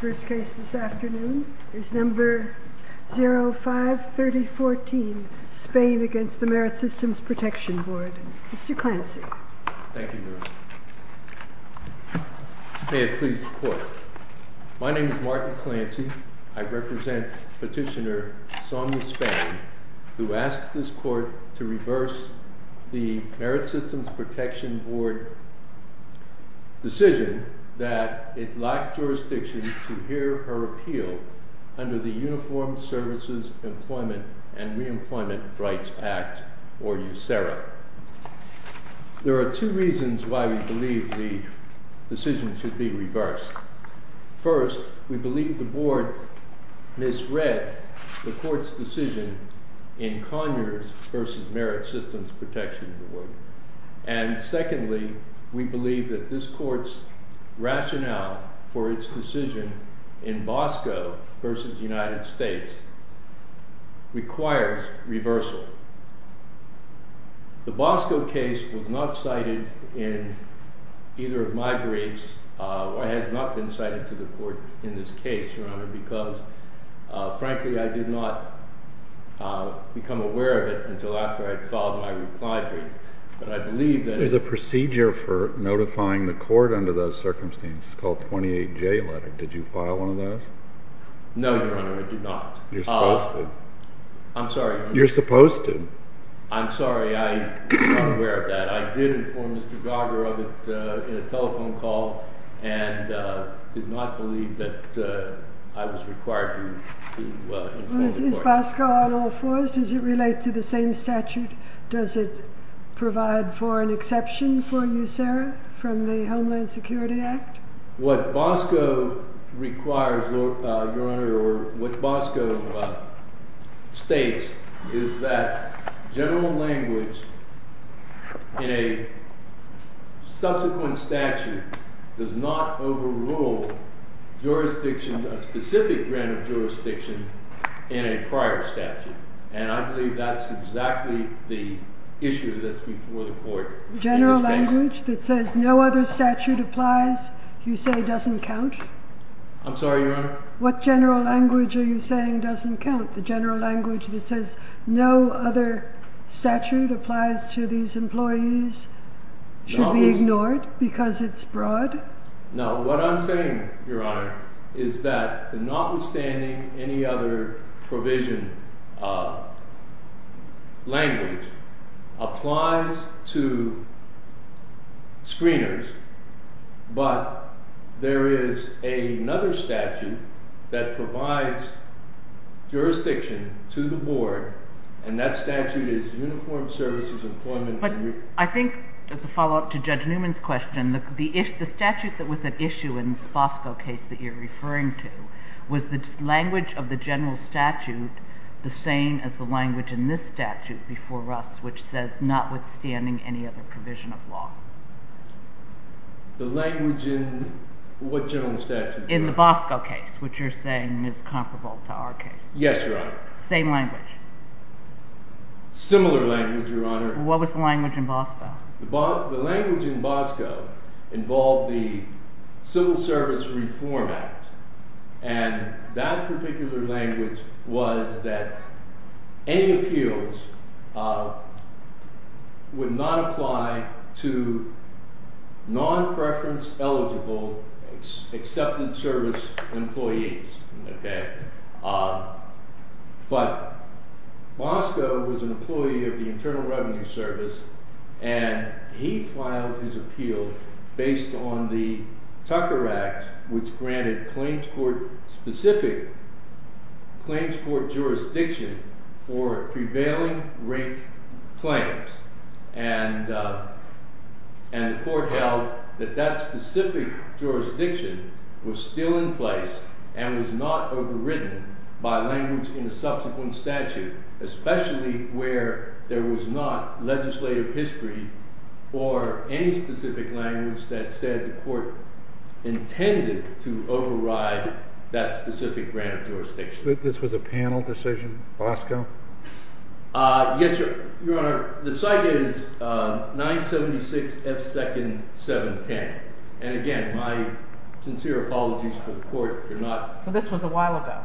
First case this afternoon is number 053014, Spain v. Merit Systems Protection Board. Mr. Clancy. Thank you, Your Honor. May it please the Court. My name is Martin Clancy. I represent Petitioner Sonia Spain, who asks this Court to reverse the Merit Systems Protection Board decision that it lacked jurisdiction to hear her appeal under the Uniformed Services Employment and Reemployment Rights Act, or USERRA. There are two reasons why we believe the decision should be reversed. First, we believe the Board misread the Court's decision in Conyers v. Merit Systems Protection Board. And secondly, we believe that this Court's rationale for its decision in Bosco v. United States requires reversal. The Bosco case was not cited in either of my briefs, or has not been cited to the Court in this case, Your Honor, because frankly I did not become aware of it until after I had filed my reply brief. There's a procedure for notifying the Court under those circumstances called 28J letter. Did you file one of those? No, Your Honor, I did not. You're supposed to. I'm sorry, I was not aware of that. I did inform Mr. Garber of it in a telephone call, and did not believe that I was required to inform the Court. Is Bosco on all fours? Does it relate to the same statute? Does it provide for an exception for USERRA from the Homeland Security Act? What Bosco requires, Your Honor, or what Bosco states is that general language in a subsequent statute does not overrule jurisdiction, a specific grant of jurisdiction in a prior statute. And I believe that's exactly the issue that's before the Court in this case. The general language that says no other statute applies, you say doesn't count? I'm sorry, Your Honor? What general language are you saying doesn't count? The general language that says no other statute applies to these employees should be ignored because it's broad? No, what I'm saying, Your Honor, is that notwithstanding any other provision, language applies to screeners, but there is another statute that provides jurisdiction to the Board, and that statute is Uniformed Services Employment. But I think, as a follow-up to Judge Newman's question, the statute that was at issue in this Bosco case that you're referring to, was the language of the general statute the same as the language in this statute before us, which says notwithstanding any other provision of law? The language in what general statute, Your Honor? In the Bosco case, which you're saying is comparable to our case. Yes, Your Honor. Same language. Similar language, Your Honor. What was the language in Bosco? The language in Bosco involved the Civil Service Reform Act, and that particular language was that any appeals would not apply to non-preference eligible accepted service employees. But Bosco was an employee of the Internal Revenue Service, and he filed his appeal based on the Tucker Act, which granted claims court-specific claims court jurisdiction for prevailing rate claims. And the court held that that specific jurisdiction was still in place and was not overwritten by language in the subsequent statute, especially where there was not legislative history for any specific language that said the court intended to override that specific grant of jurisdiction. This was a panel decision, Bosco? Yes, Your Honor. The site is 976 F. Second, 710. And again, my sincere apologies for the court if you're not… So this was a while ago?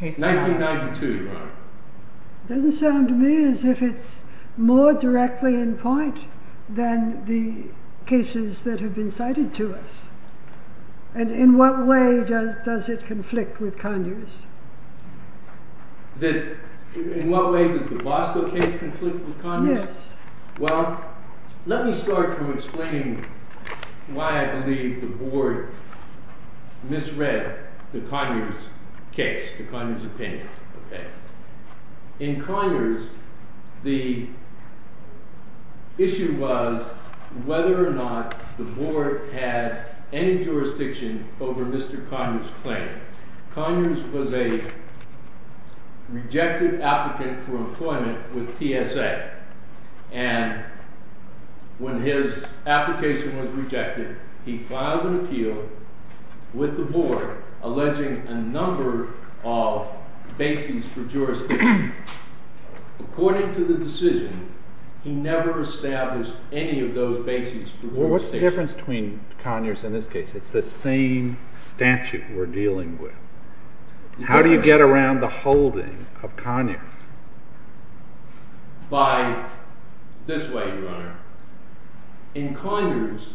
1992, Your Honor. It doesn't sound to me as if it's more directly in point than the cases that have been cited to us. And in what way does it conflict with Conyers? In what way does the Bosco case conflict with Conyers? Yes. Well, let me start from explaining why I believe the Board misread the Conyers case, the Conyers opinion. In Conyers, the issue was whether or not the Board had any jurisdiction over Mr. Conyers' claim. Conyers was a rejected applicant for employment with TSA, and when his application was rejected, he filed an appeal with the Board alleging a number of bases for jurisdiction. According to the decision, he never established any of those bases for jurisdiction. What's the difference between Conyers in this case? It's the same statute we're dealing with. How do you get around the holding of Conyers? By this way, Your Honor. In Conyers,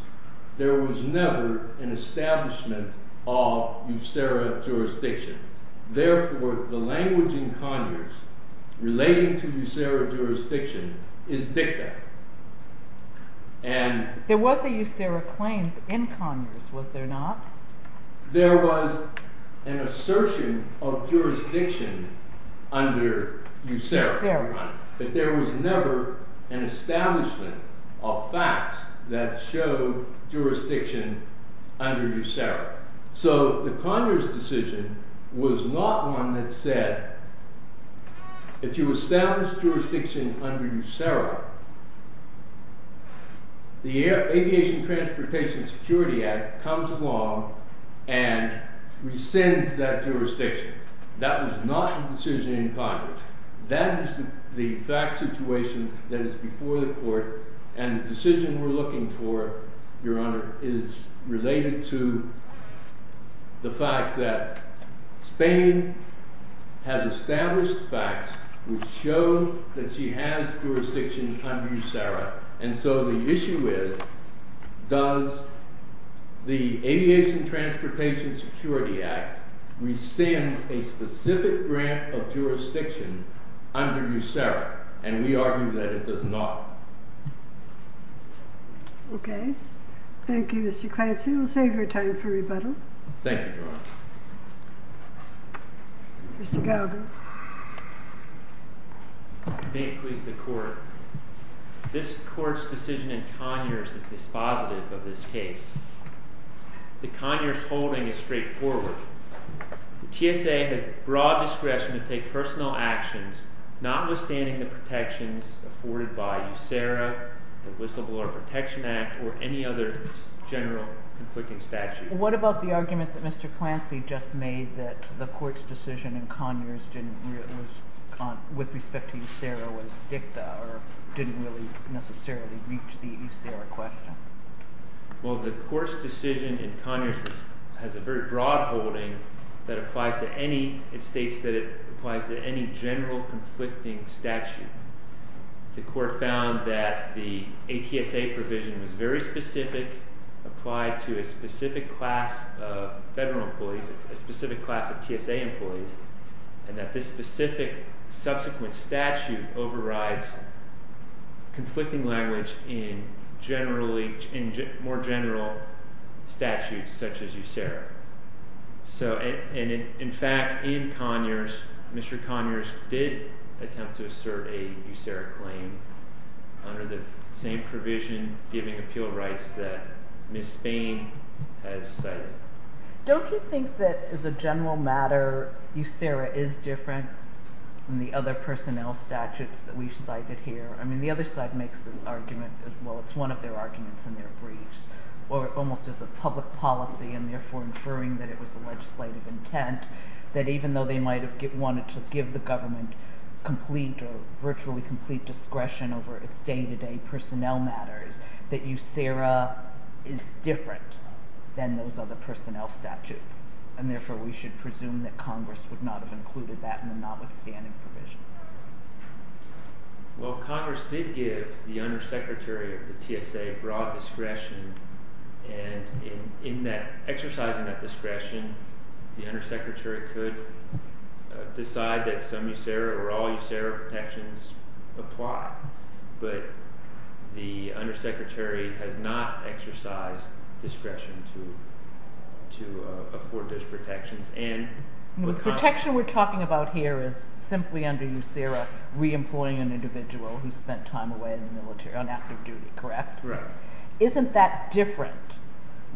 there was never an establishment of USERA jurisdiction. Therefore, the language in Conyers relating to USERA jurisdiction is dicta. There was a USERA claim in Conyers, was there not? There was an assertion of jurisdiction under USERA, Your Honor, but there was never an establishment of facts that showed jurisdiction under USERA. So, the Conyers decision was not one that said, if you establish jurisdiction under USERA, the Aviation Transportation Security Act comes along and rescinds that jurisdiction. That was not the decision in Conyers. That is the fact situation that is before the Court, and the decision we're looking for, Your Honor, is related to the fact that Spain has established facts which show that she has jurisdiction under USERA. And so, the issue is, does the Aviation Transportation Security Act rescind a specific grant of jurisdiction under USERA? And we argue that it does not. Okay. Thank you, Mr. Clancy. We'll save your time for rebuttal. Thank you, Your Honor. Mr. Galgan. May it please the Court, this Court's decision in Conyers is dispositive of this case. The Conyers holding is straightforward. The TSA has broad discretion to take personal actions, notwithstanding the protections afforded by USERA, the Whistleblower Protection Act, or any other general conflicting statute. What about the argument that Mr. Clancy just made that the Court's decision in Conyers with respect to USERA was dicta, or didn't really necessarily reach the USERA question? Well, the Court's decision in Conyers has a very broad holding that applies to any, it states that it applies to any general conflicting statute. The Court found that the ATSA provision was very specific, applied to a specific class of federal employees, a specific class of TSA employees, and that this specific subsequent statute overrides conflicting language in generally, in more general statutes such as USERA. So, in fact, in Conyers, Mr. Conyers did attempt to assert a USERA claim under the same provision giving appeal rights that Ms. Spain has cited. Don't you think that, as a general matter, USERA is different than the other personnel statutes that we've cited here? I mean, the other side makes this argument, well, it's one of their arguments in their briefs, or almost as a public policy and therefore inferring that it was a legislative intent, that even though they might have wanted to give the government complete or virtually complete discretion over its day-to-day personnel matters, that USERA is different than those other personnel statutes, and therefore we should presume that Congress would not have included that in the notwithstanding provision. Well, Congress did give the Undersecretary of the TSA broad discretion, and in exercising that discretion, the Undersecretary could decide that some USERA or all USERA protections apply, but the Undersecretary has not exercised discretion to afford those protections. The protection we're talking about here is simply, under USERA, re-employing an individual who spent time away in the military on active duty, correct? Correct. Isn't that different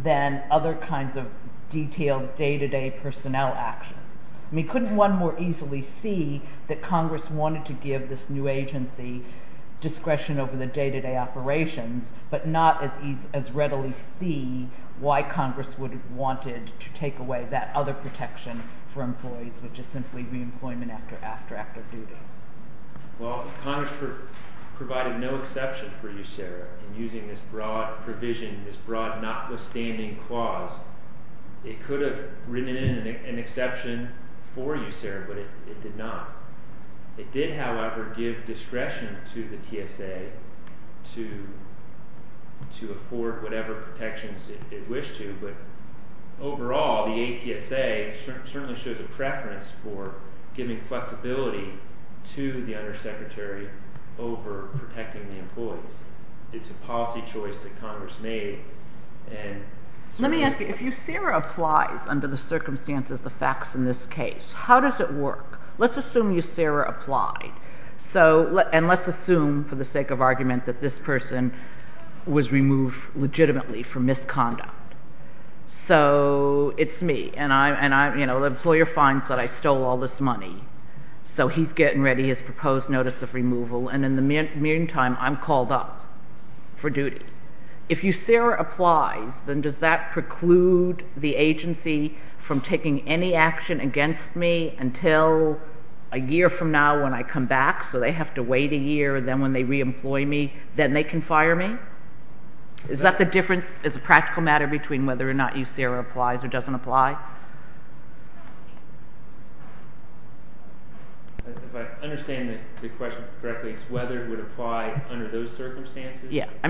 than other kinds of detailed day-to-day personnel actions? I mean, couldn't one more easily see that Congress wanted to give this new agency discretion over the day-to-day operations, but not as readily see why Congress would have wanted to take away that other protection for employees, which is simply re-employment after active duty? Well, Congress provided no exception for USERA in using this broad provision, this broad notwithstanding clause. It could have written in an exception for USERA, but it did not. It did, however, give discretion to the TSA to afford whatever protections it wished to, but overall, the ATSA certainly shows a preference for giving flexibility to the Undersecretary over protecting the employees. It's a policy choice that Congress made. Let me ask you, if USERA applies under the circumstances, the facts in this case, how does it work? Let's assume USERA applied, and let's assume for the sake of argument that this person was removed legitimately for misconduct. So, it's me, and the employer finds that I stole all this money, so he's getting ready his proposed notice of removal, and in the meantime, I'm called up for duty. If USERA applies, then does that preclude the agency from taking any action against me until a year from now when I come back, so they have to wait a year, and then when they re-employ me, then they can fire me? Is that the difference as a practical matter between whether or not USERA applies or doesn't apply? If I understand the question correctly, it's whether it would apply under those circumstances? There's a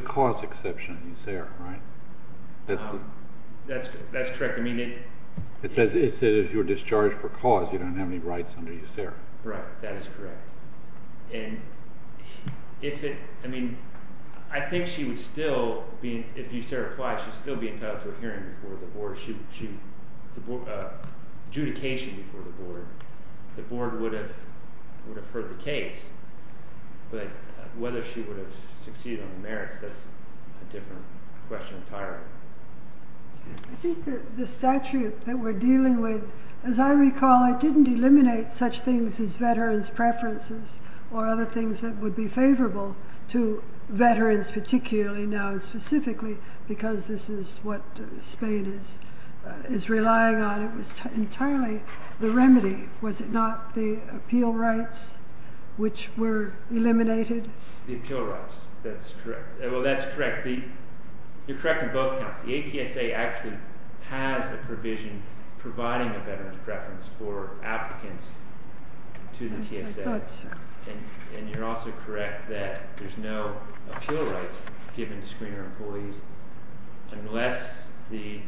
cause exception in USERA, right? That's correct. It says if you're discharged for cause, you don't have any rights under USERA. Right, that is correct. And if it, I mean, I think she would still, if USERA applies, she'd still be entitled to a hearing before the board, adjudication before the board. The board would have heard the case, but whether she would have succeeded on the merits, that's a different question entirely. I think the statute that we're dealing with, as I recall, it didn't eliminate such things as veterans' preferences or other things that would be favorable to veterans, particularly now specifically, because this is what Spain is relying on. It was entirely the remedy. Was it not the appeal rights which were eliminated? The appeal rights, that's correct. Well, that's correct. You're correct on both counts. The ATSA actually has a provision providing a veterans' preference for applicants to the TSA. And you're also correct that there's no appeal rights given to screener employees unless the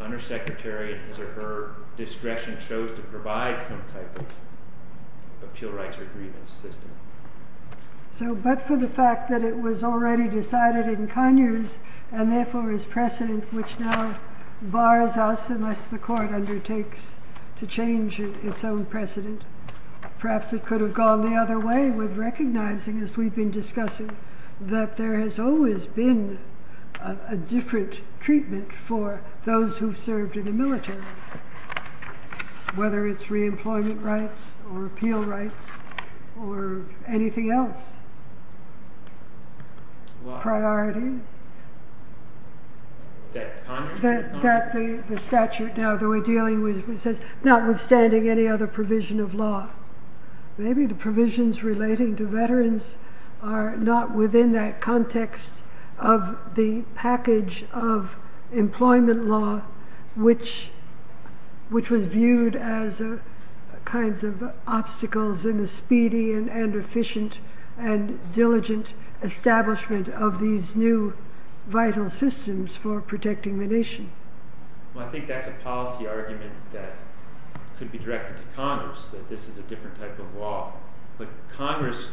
undersecretary at his or her discretion chose to provide some type of appeal rights or grievance system. So, but for the fact that it was already decided in Conyers and therefore is precedent, which now bars us unless the court undertakes to change its own precedent, perhaps it could have gone the other way with recognizing, as we've been discussing, that there has always been a different treatment for those who served in the military, whether it's reemployment rights or appeal rights or anything else. Priority. That the statute now that we're dealing with says, notwithstanding any other provision of law, maybe the provisions relating to veterans are not within that context of the package of employment law, which was viewed as a kinds of obstacles in the speedy and efficient and diligent establishment of these new vital systems for protecting the nation. Well, I think that's a policy argument that could be directed to Congress, that this is a different type of law. But Congress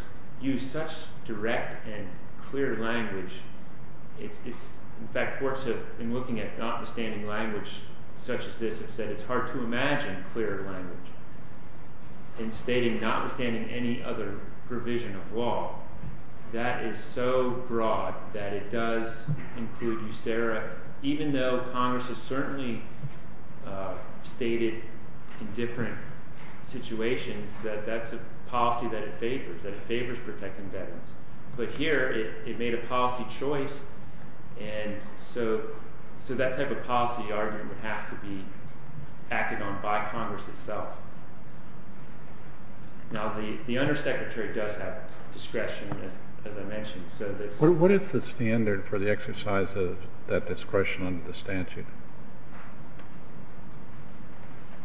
used such direct and clear language. In fact, courts have been looking at notwithstanding language such as this and said it's hard to imagine clearer language in stating notwithstanding any other provision of law. That is so broad that it does include USERRA, even though Congress has certainly stated in different situations that that's a policy that it favors, that it favors protecting veterans. But here it made a policy choice. And so that type of policy argument would have to be acted on by Congress itself. Now, the undersecretary does have discretion, as I mentioned. What is the standard for the exercise of that discretion under the statute?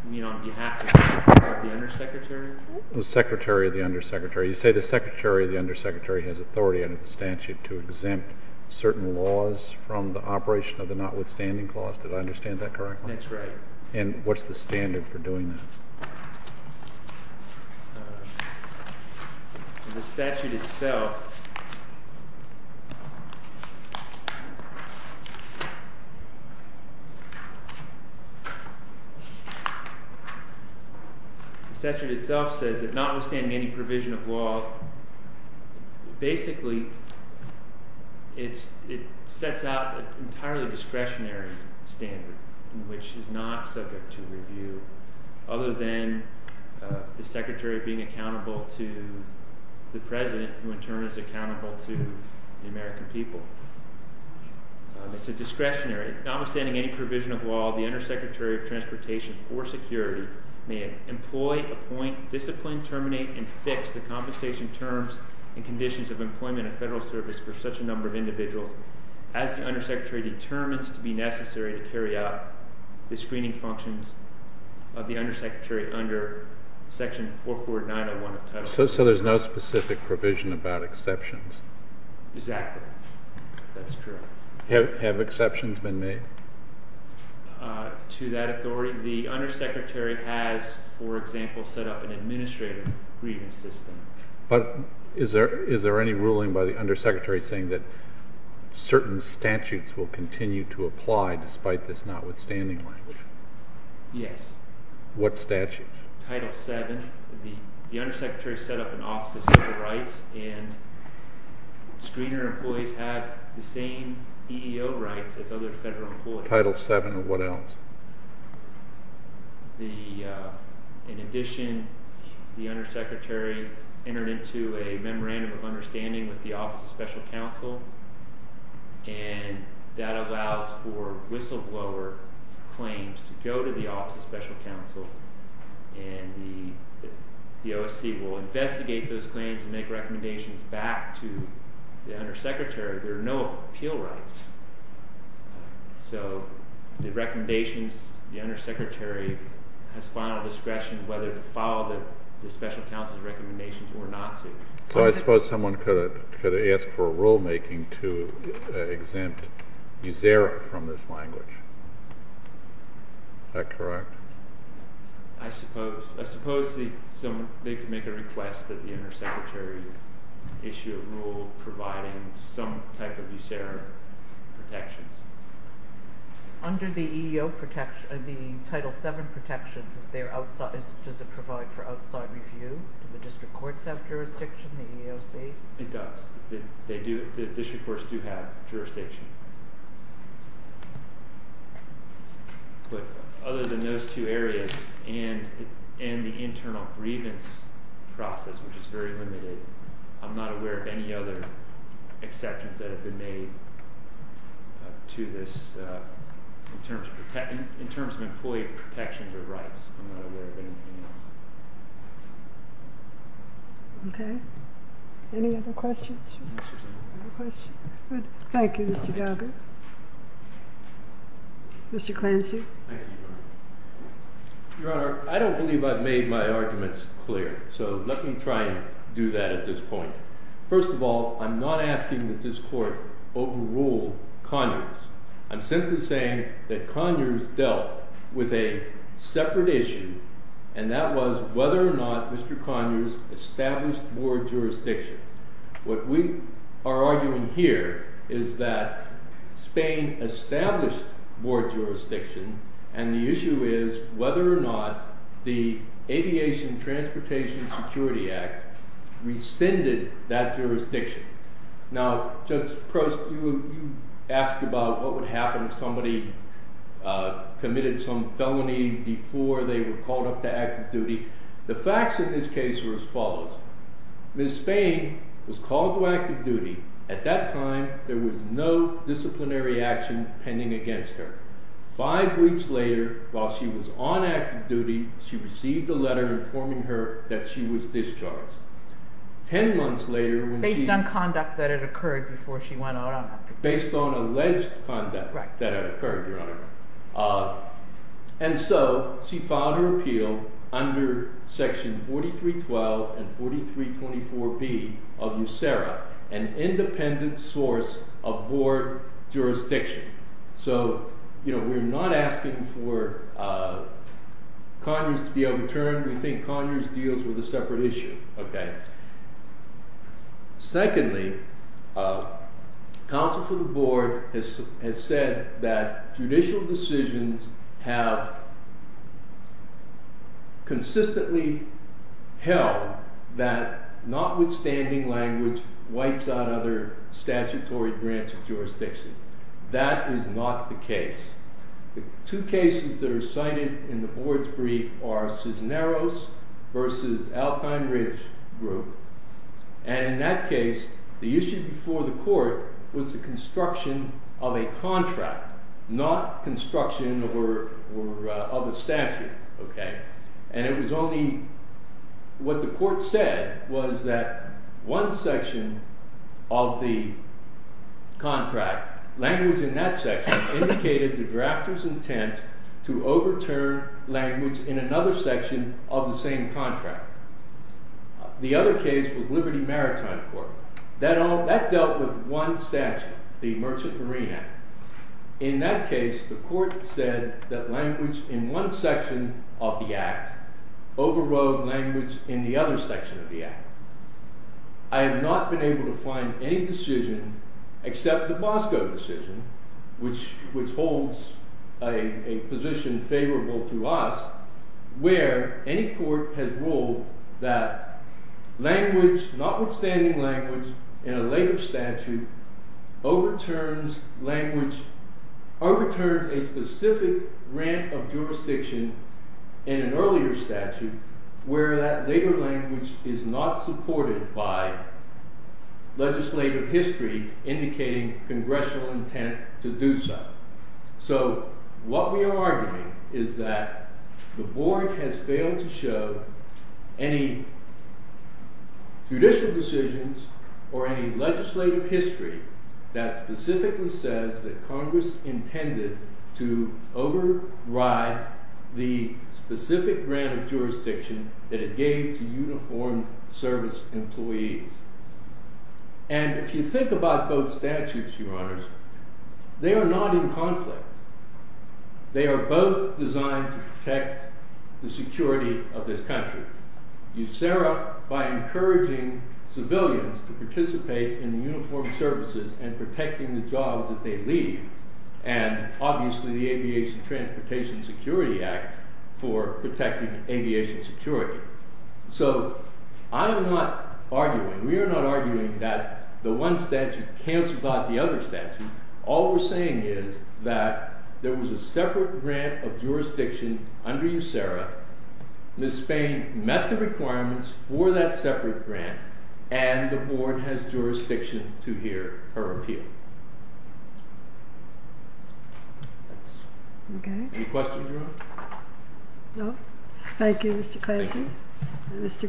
You mean on behalf of the undersecretary? The secretary of the undersecretary. You say the secretary of the undersecretary has authority under the statute to exempt certain laws from the operation of the notwithstanding clause. Did I understand that correctly? That's right. And what's the standard for doing that? The statute itself says that notwithstanding any provision of law, basically it sets out an entirely discretionary standard, which is not subject to review, other than the secretary being accountable to the president, who in turn is accountable to the American people. It's a discretionary. So there's no specific provision about exceptions? Exactly. That's true. Have exceptions been made? To that authority. The undersecretary has, for example, set up an administrator grievance system. But is there any ruling by the undersecretary saying that certain statutes will continue to apply despite this notwithstanding language? Yes. What statute? Title VII. The undersecretary set up an office of civil rights, and screener employees have the same EEO rights as other federal employees. Title VII or what else? In addition, the undersecretary entered into a memorandum of understanding with the Office of Special Counsel, and that allows for whistleblower claims to go to the Office of Special Counsel, and the OSC will investigate those claims and make recommendations back to the undersecretary. There are no appeal rights. So the recommendations, the undersecretary has final discretion whether to follow the special counsel's recommendations or not. So I suppose someone could ask for rulemaking to exempt USERRA from this language. Is that correct? I suppose they could make a request that the undersecretary issue a rule providing some type of USERRA protections. Under the EEO protection, the Title VII protections, does it provide for outside review? Do the district courts have jurisdiction, the EEOC? It does. The district courts do have jurisdiction. But other than those two areas and the internal grievance process, which is very limited, I'm not aware of any other exceptions that have been made to this in terms of employee protections or rights. I'm not aware of anything else. Okay. Any other questions? Thank you, Mr. Gallagher. Mr. Clancy. Your Honor, I don't believe I've made my arguments clear, so let me try and do that at this point. First of all, I'm not asking that this Court overrule Conyers. I'm simply saying that Conyers dealt with a separate issue, and that was whether or not Mr. Conyers established more jurisdiction. What we are arguing here is that Spain established more jurisdiction, and the issue is whether or not the Aviation Transportation Security Act rescinded that jurisdiction. Now, Judge Prost, you asked about what would happen if somebody committed some felony before they were called up to active duty. The facts in this case were as follows. Ms. Spain was called to active duty. At that time, there was no disciplinary action pending against her. Five weeks later, while she was on active duty, she received a letter informing her that she was discharged. Ten months later… Based on conduct that had occurred before she went out on active duty. Based on alleged conduct that had occurred, Your Honor. And so, she filed her appeal under Section 4312 and 4324B of USERRA, an independent source of board jurisdiction. So, we're not asking for Conyers to be overturned. We think Conyers deals with a separate issue. Secondly, counsel for the board has said that judicial decisions have consistently held that notwithstanding language, wipes out other statutory branch of jurisdiction. The two cases that are cited in the board's brief are Cisneros versus Alpine Ridge Group. And in that case, the issue before the court was the construction of a contract, not construction of a statute. And it was only what the court said was that one section of the contract, language in that section, indicated the drafter's intent to overturn language in another section of the same contract. The other case was Liberty Maritime Court. That dealt with one statute, the Merchant Marine Act. In that case, the court said that language in one section of the act overrode language in the other section of the act. I have not been able to find any decision except the Bosco decision, which holds a position favorable to us, where any court has ruled that language, notwithstanding language, in a later statute overturns language, overturns a specific branch of jurisdiction in an earlier statute, where that later language is not supported by legislative history indicating congressional intent to do so. So what we are arguing is that the board has failed to show any judicial decisions or any legislative history that specifically says that Congress intended to override the specific branch of jurisdiction that it gave to uniformed service employees. And if you think about both statutes, Your Honors, they are not in conflict. They are both designed to protect the security of this country. You set up by encouraging civilians to participate in uniformed services and protecting the jobs that they leave, and obviously the Aviation Transportation Security Act for protecting aviation security. So I am not arguing, we are not arguing that the one statute cancels out the other statute. All we are saying is that there was a separate branch of jurisdiction under USERRA. Ms. Spain met the requirements for that separate branch, and the board has jurisdiction to hear her appeal. Any questions, Your Honor? Thank you, Mr. Clancy and Mr. Galbraith.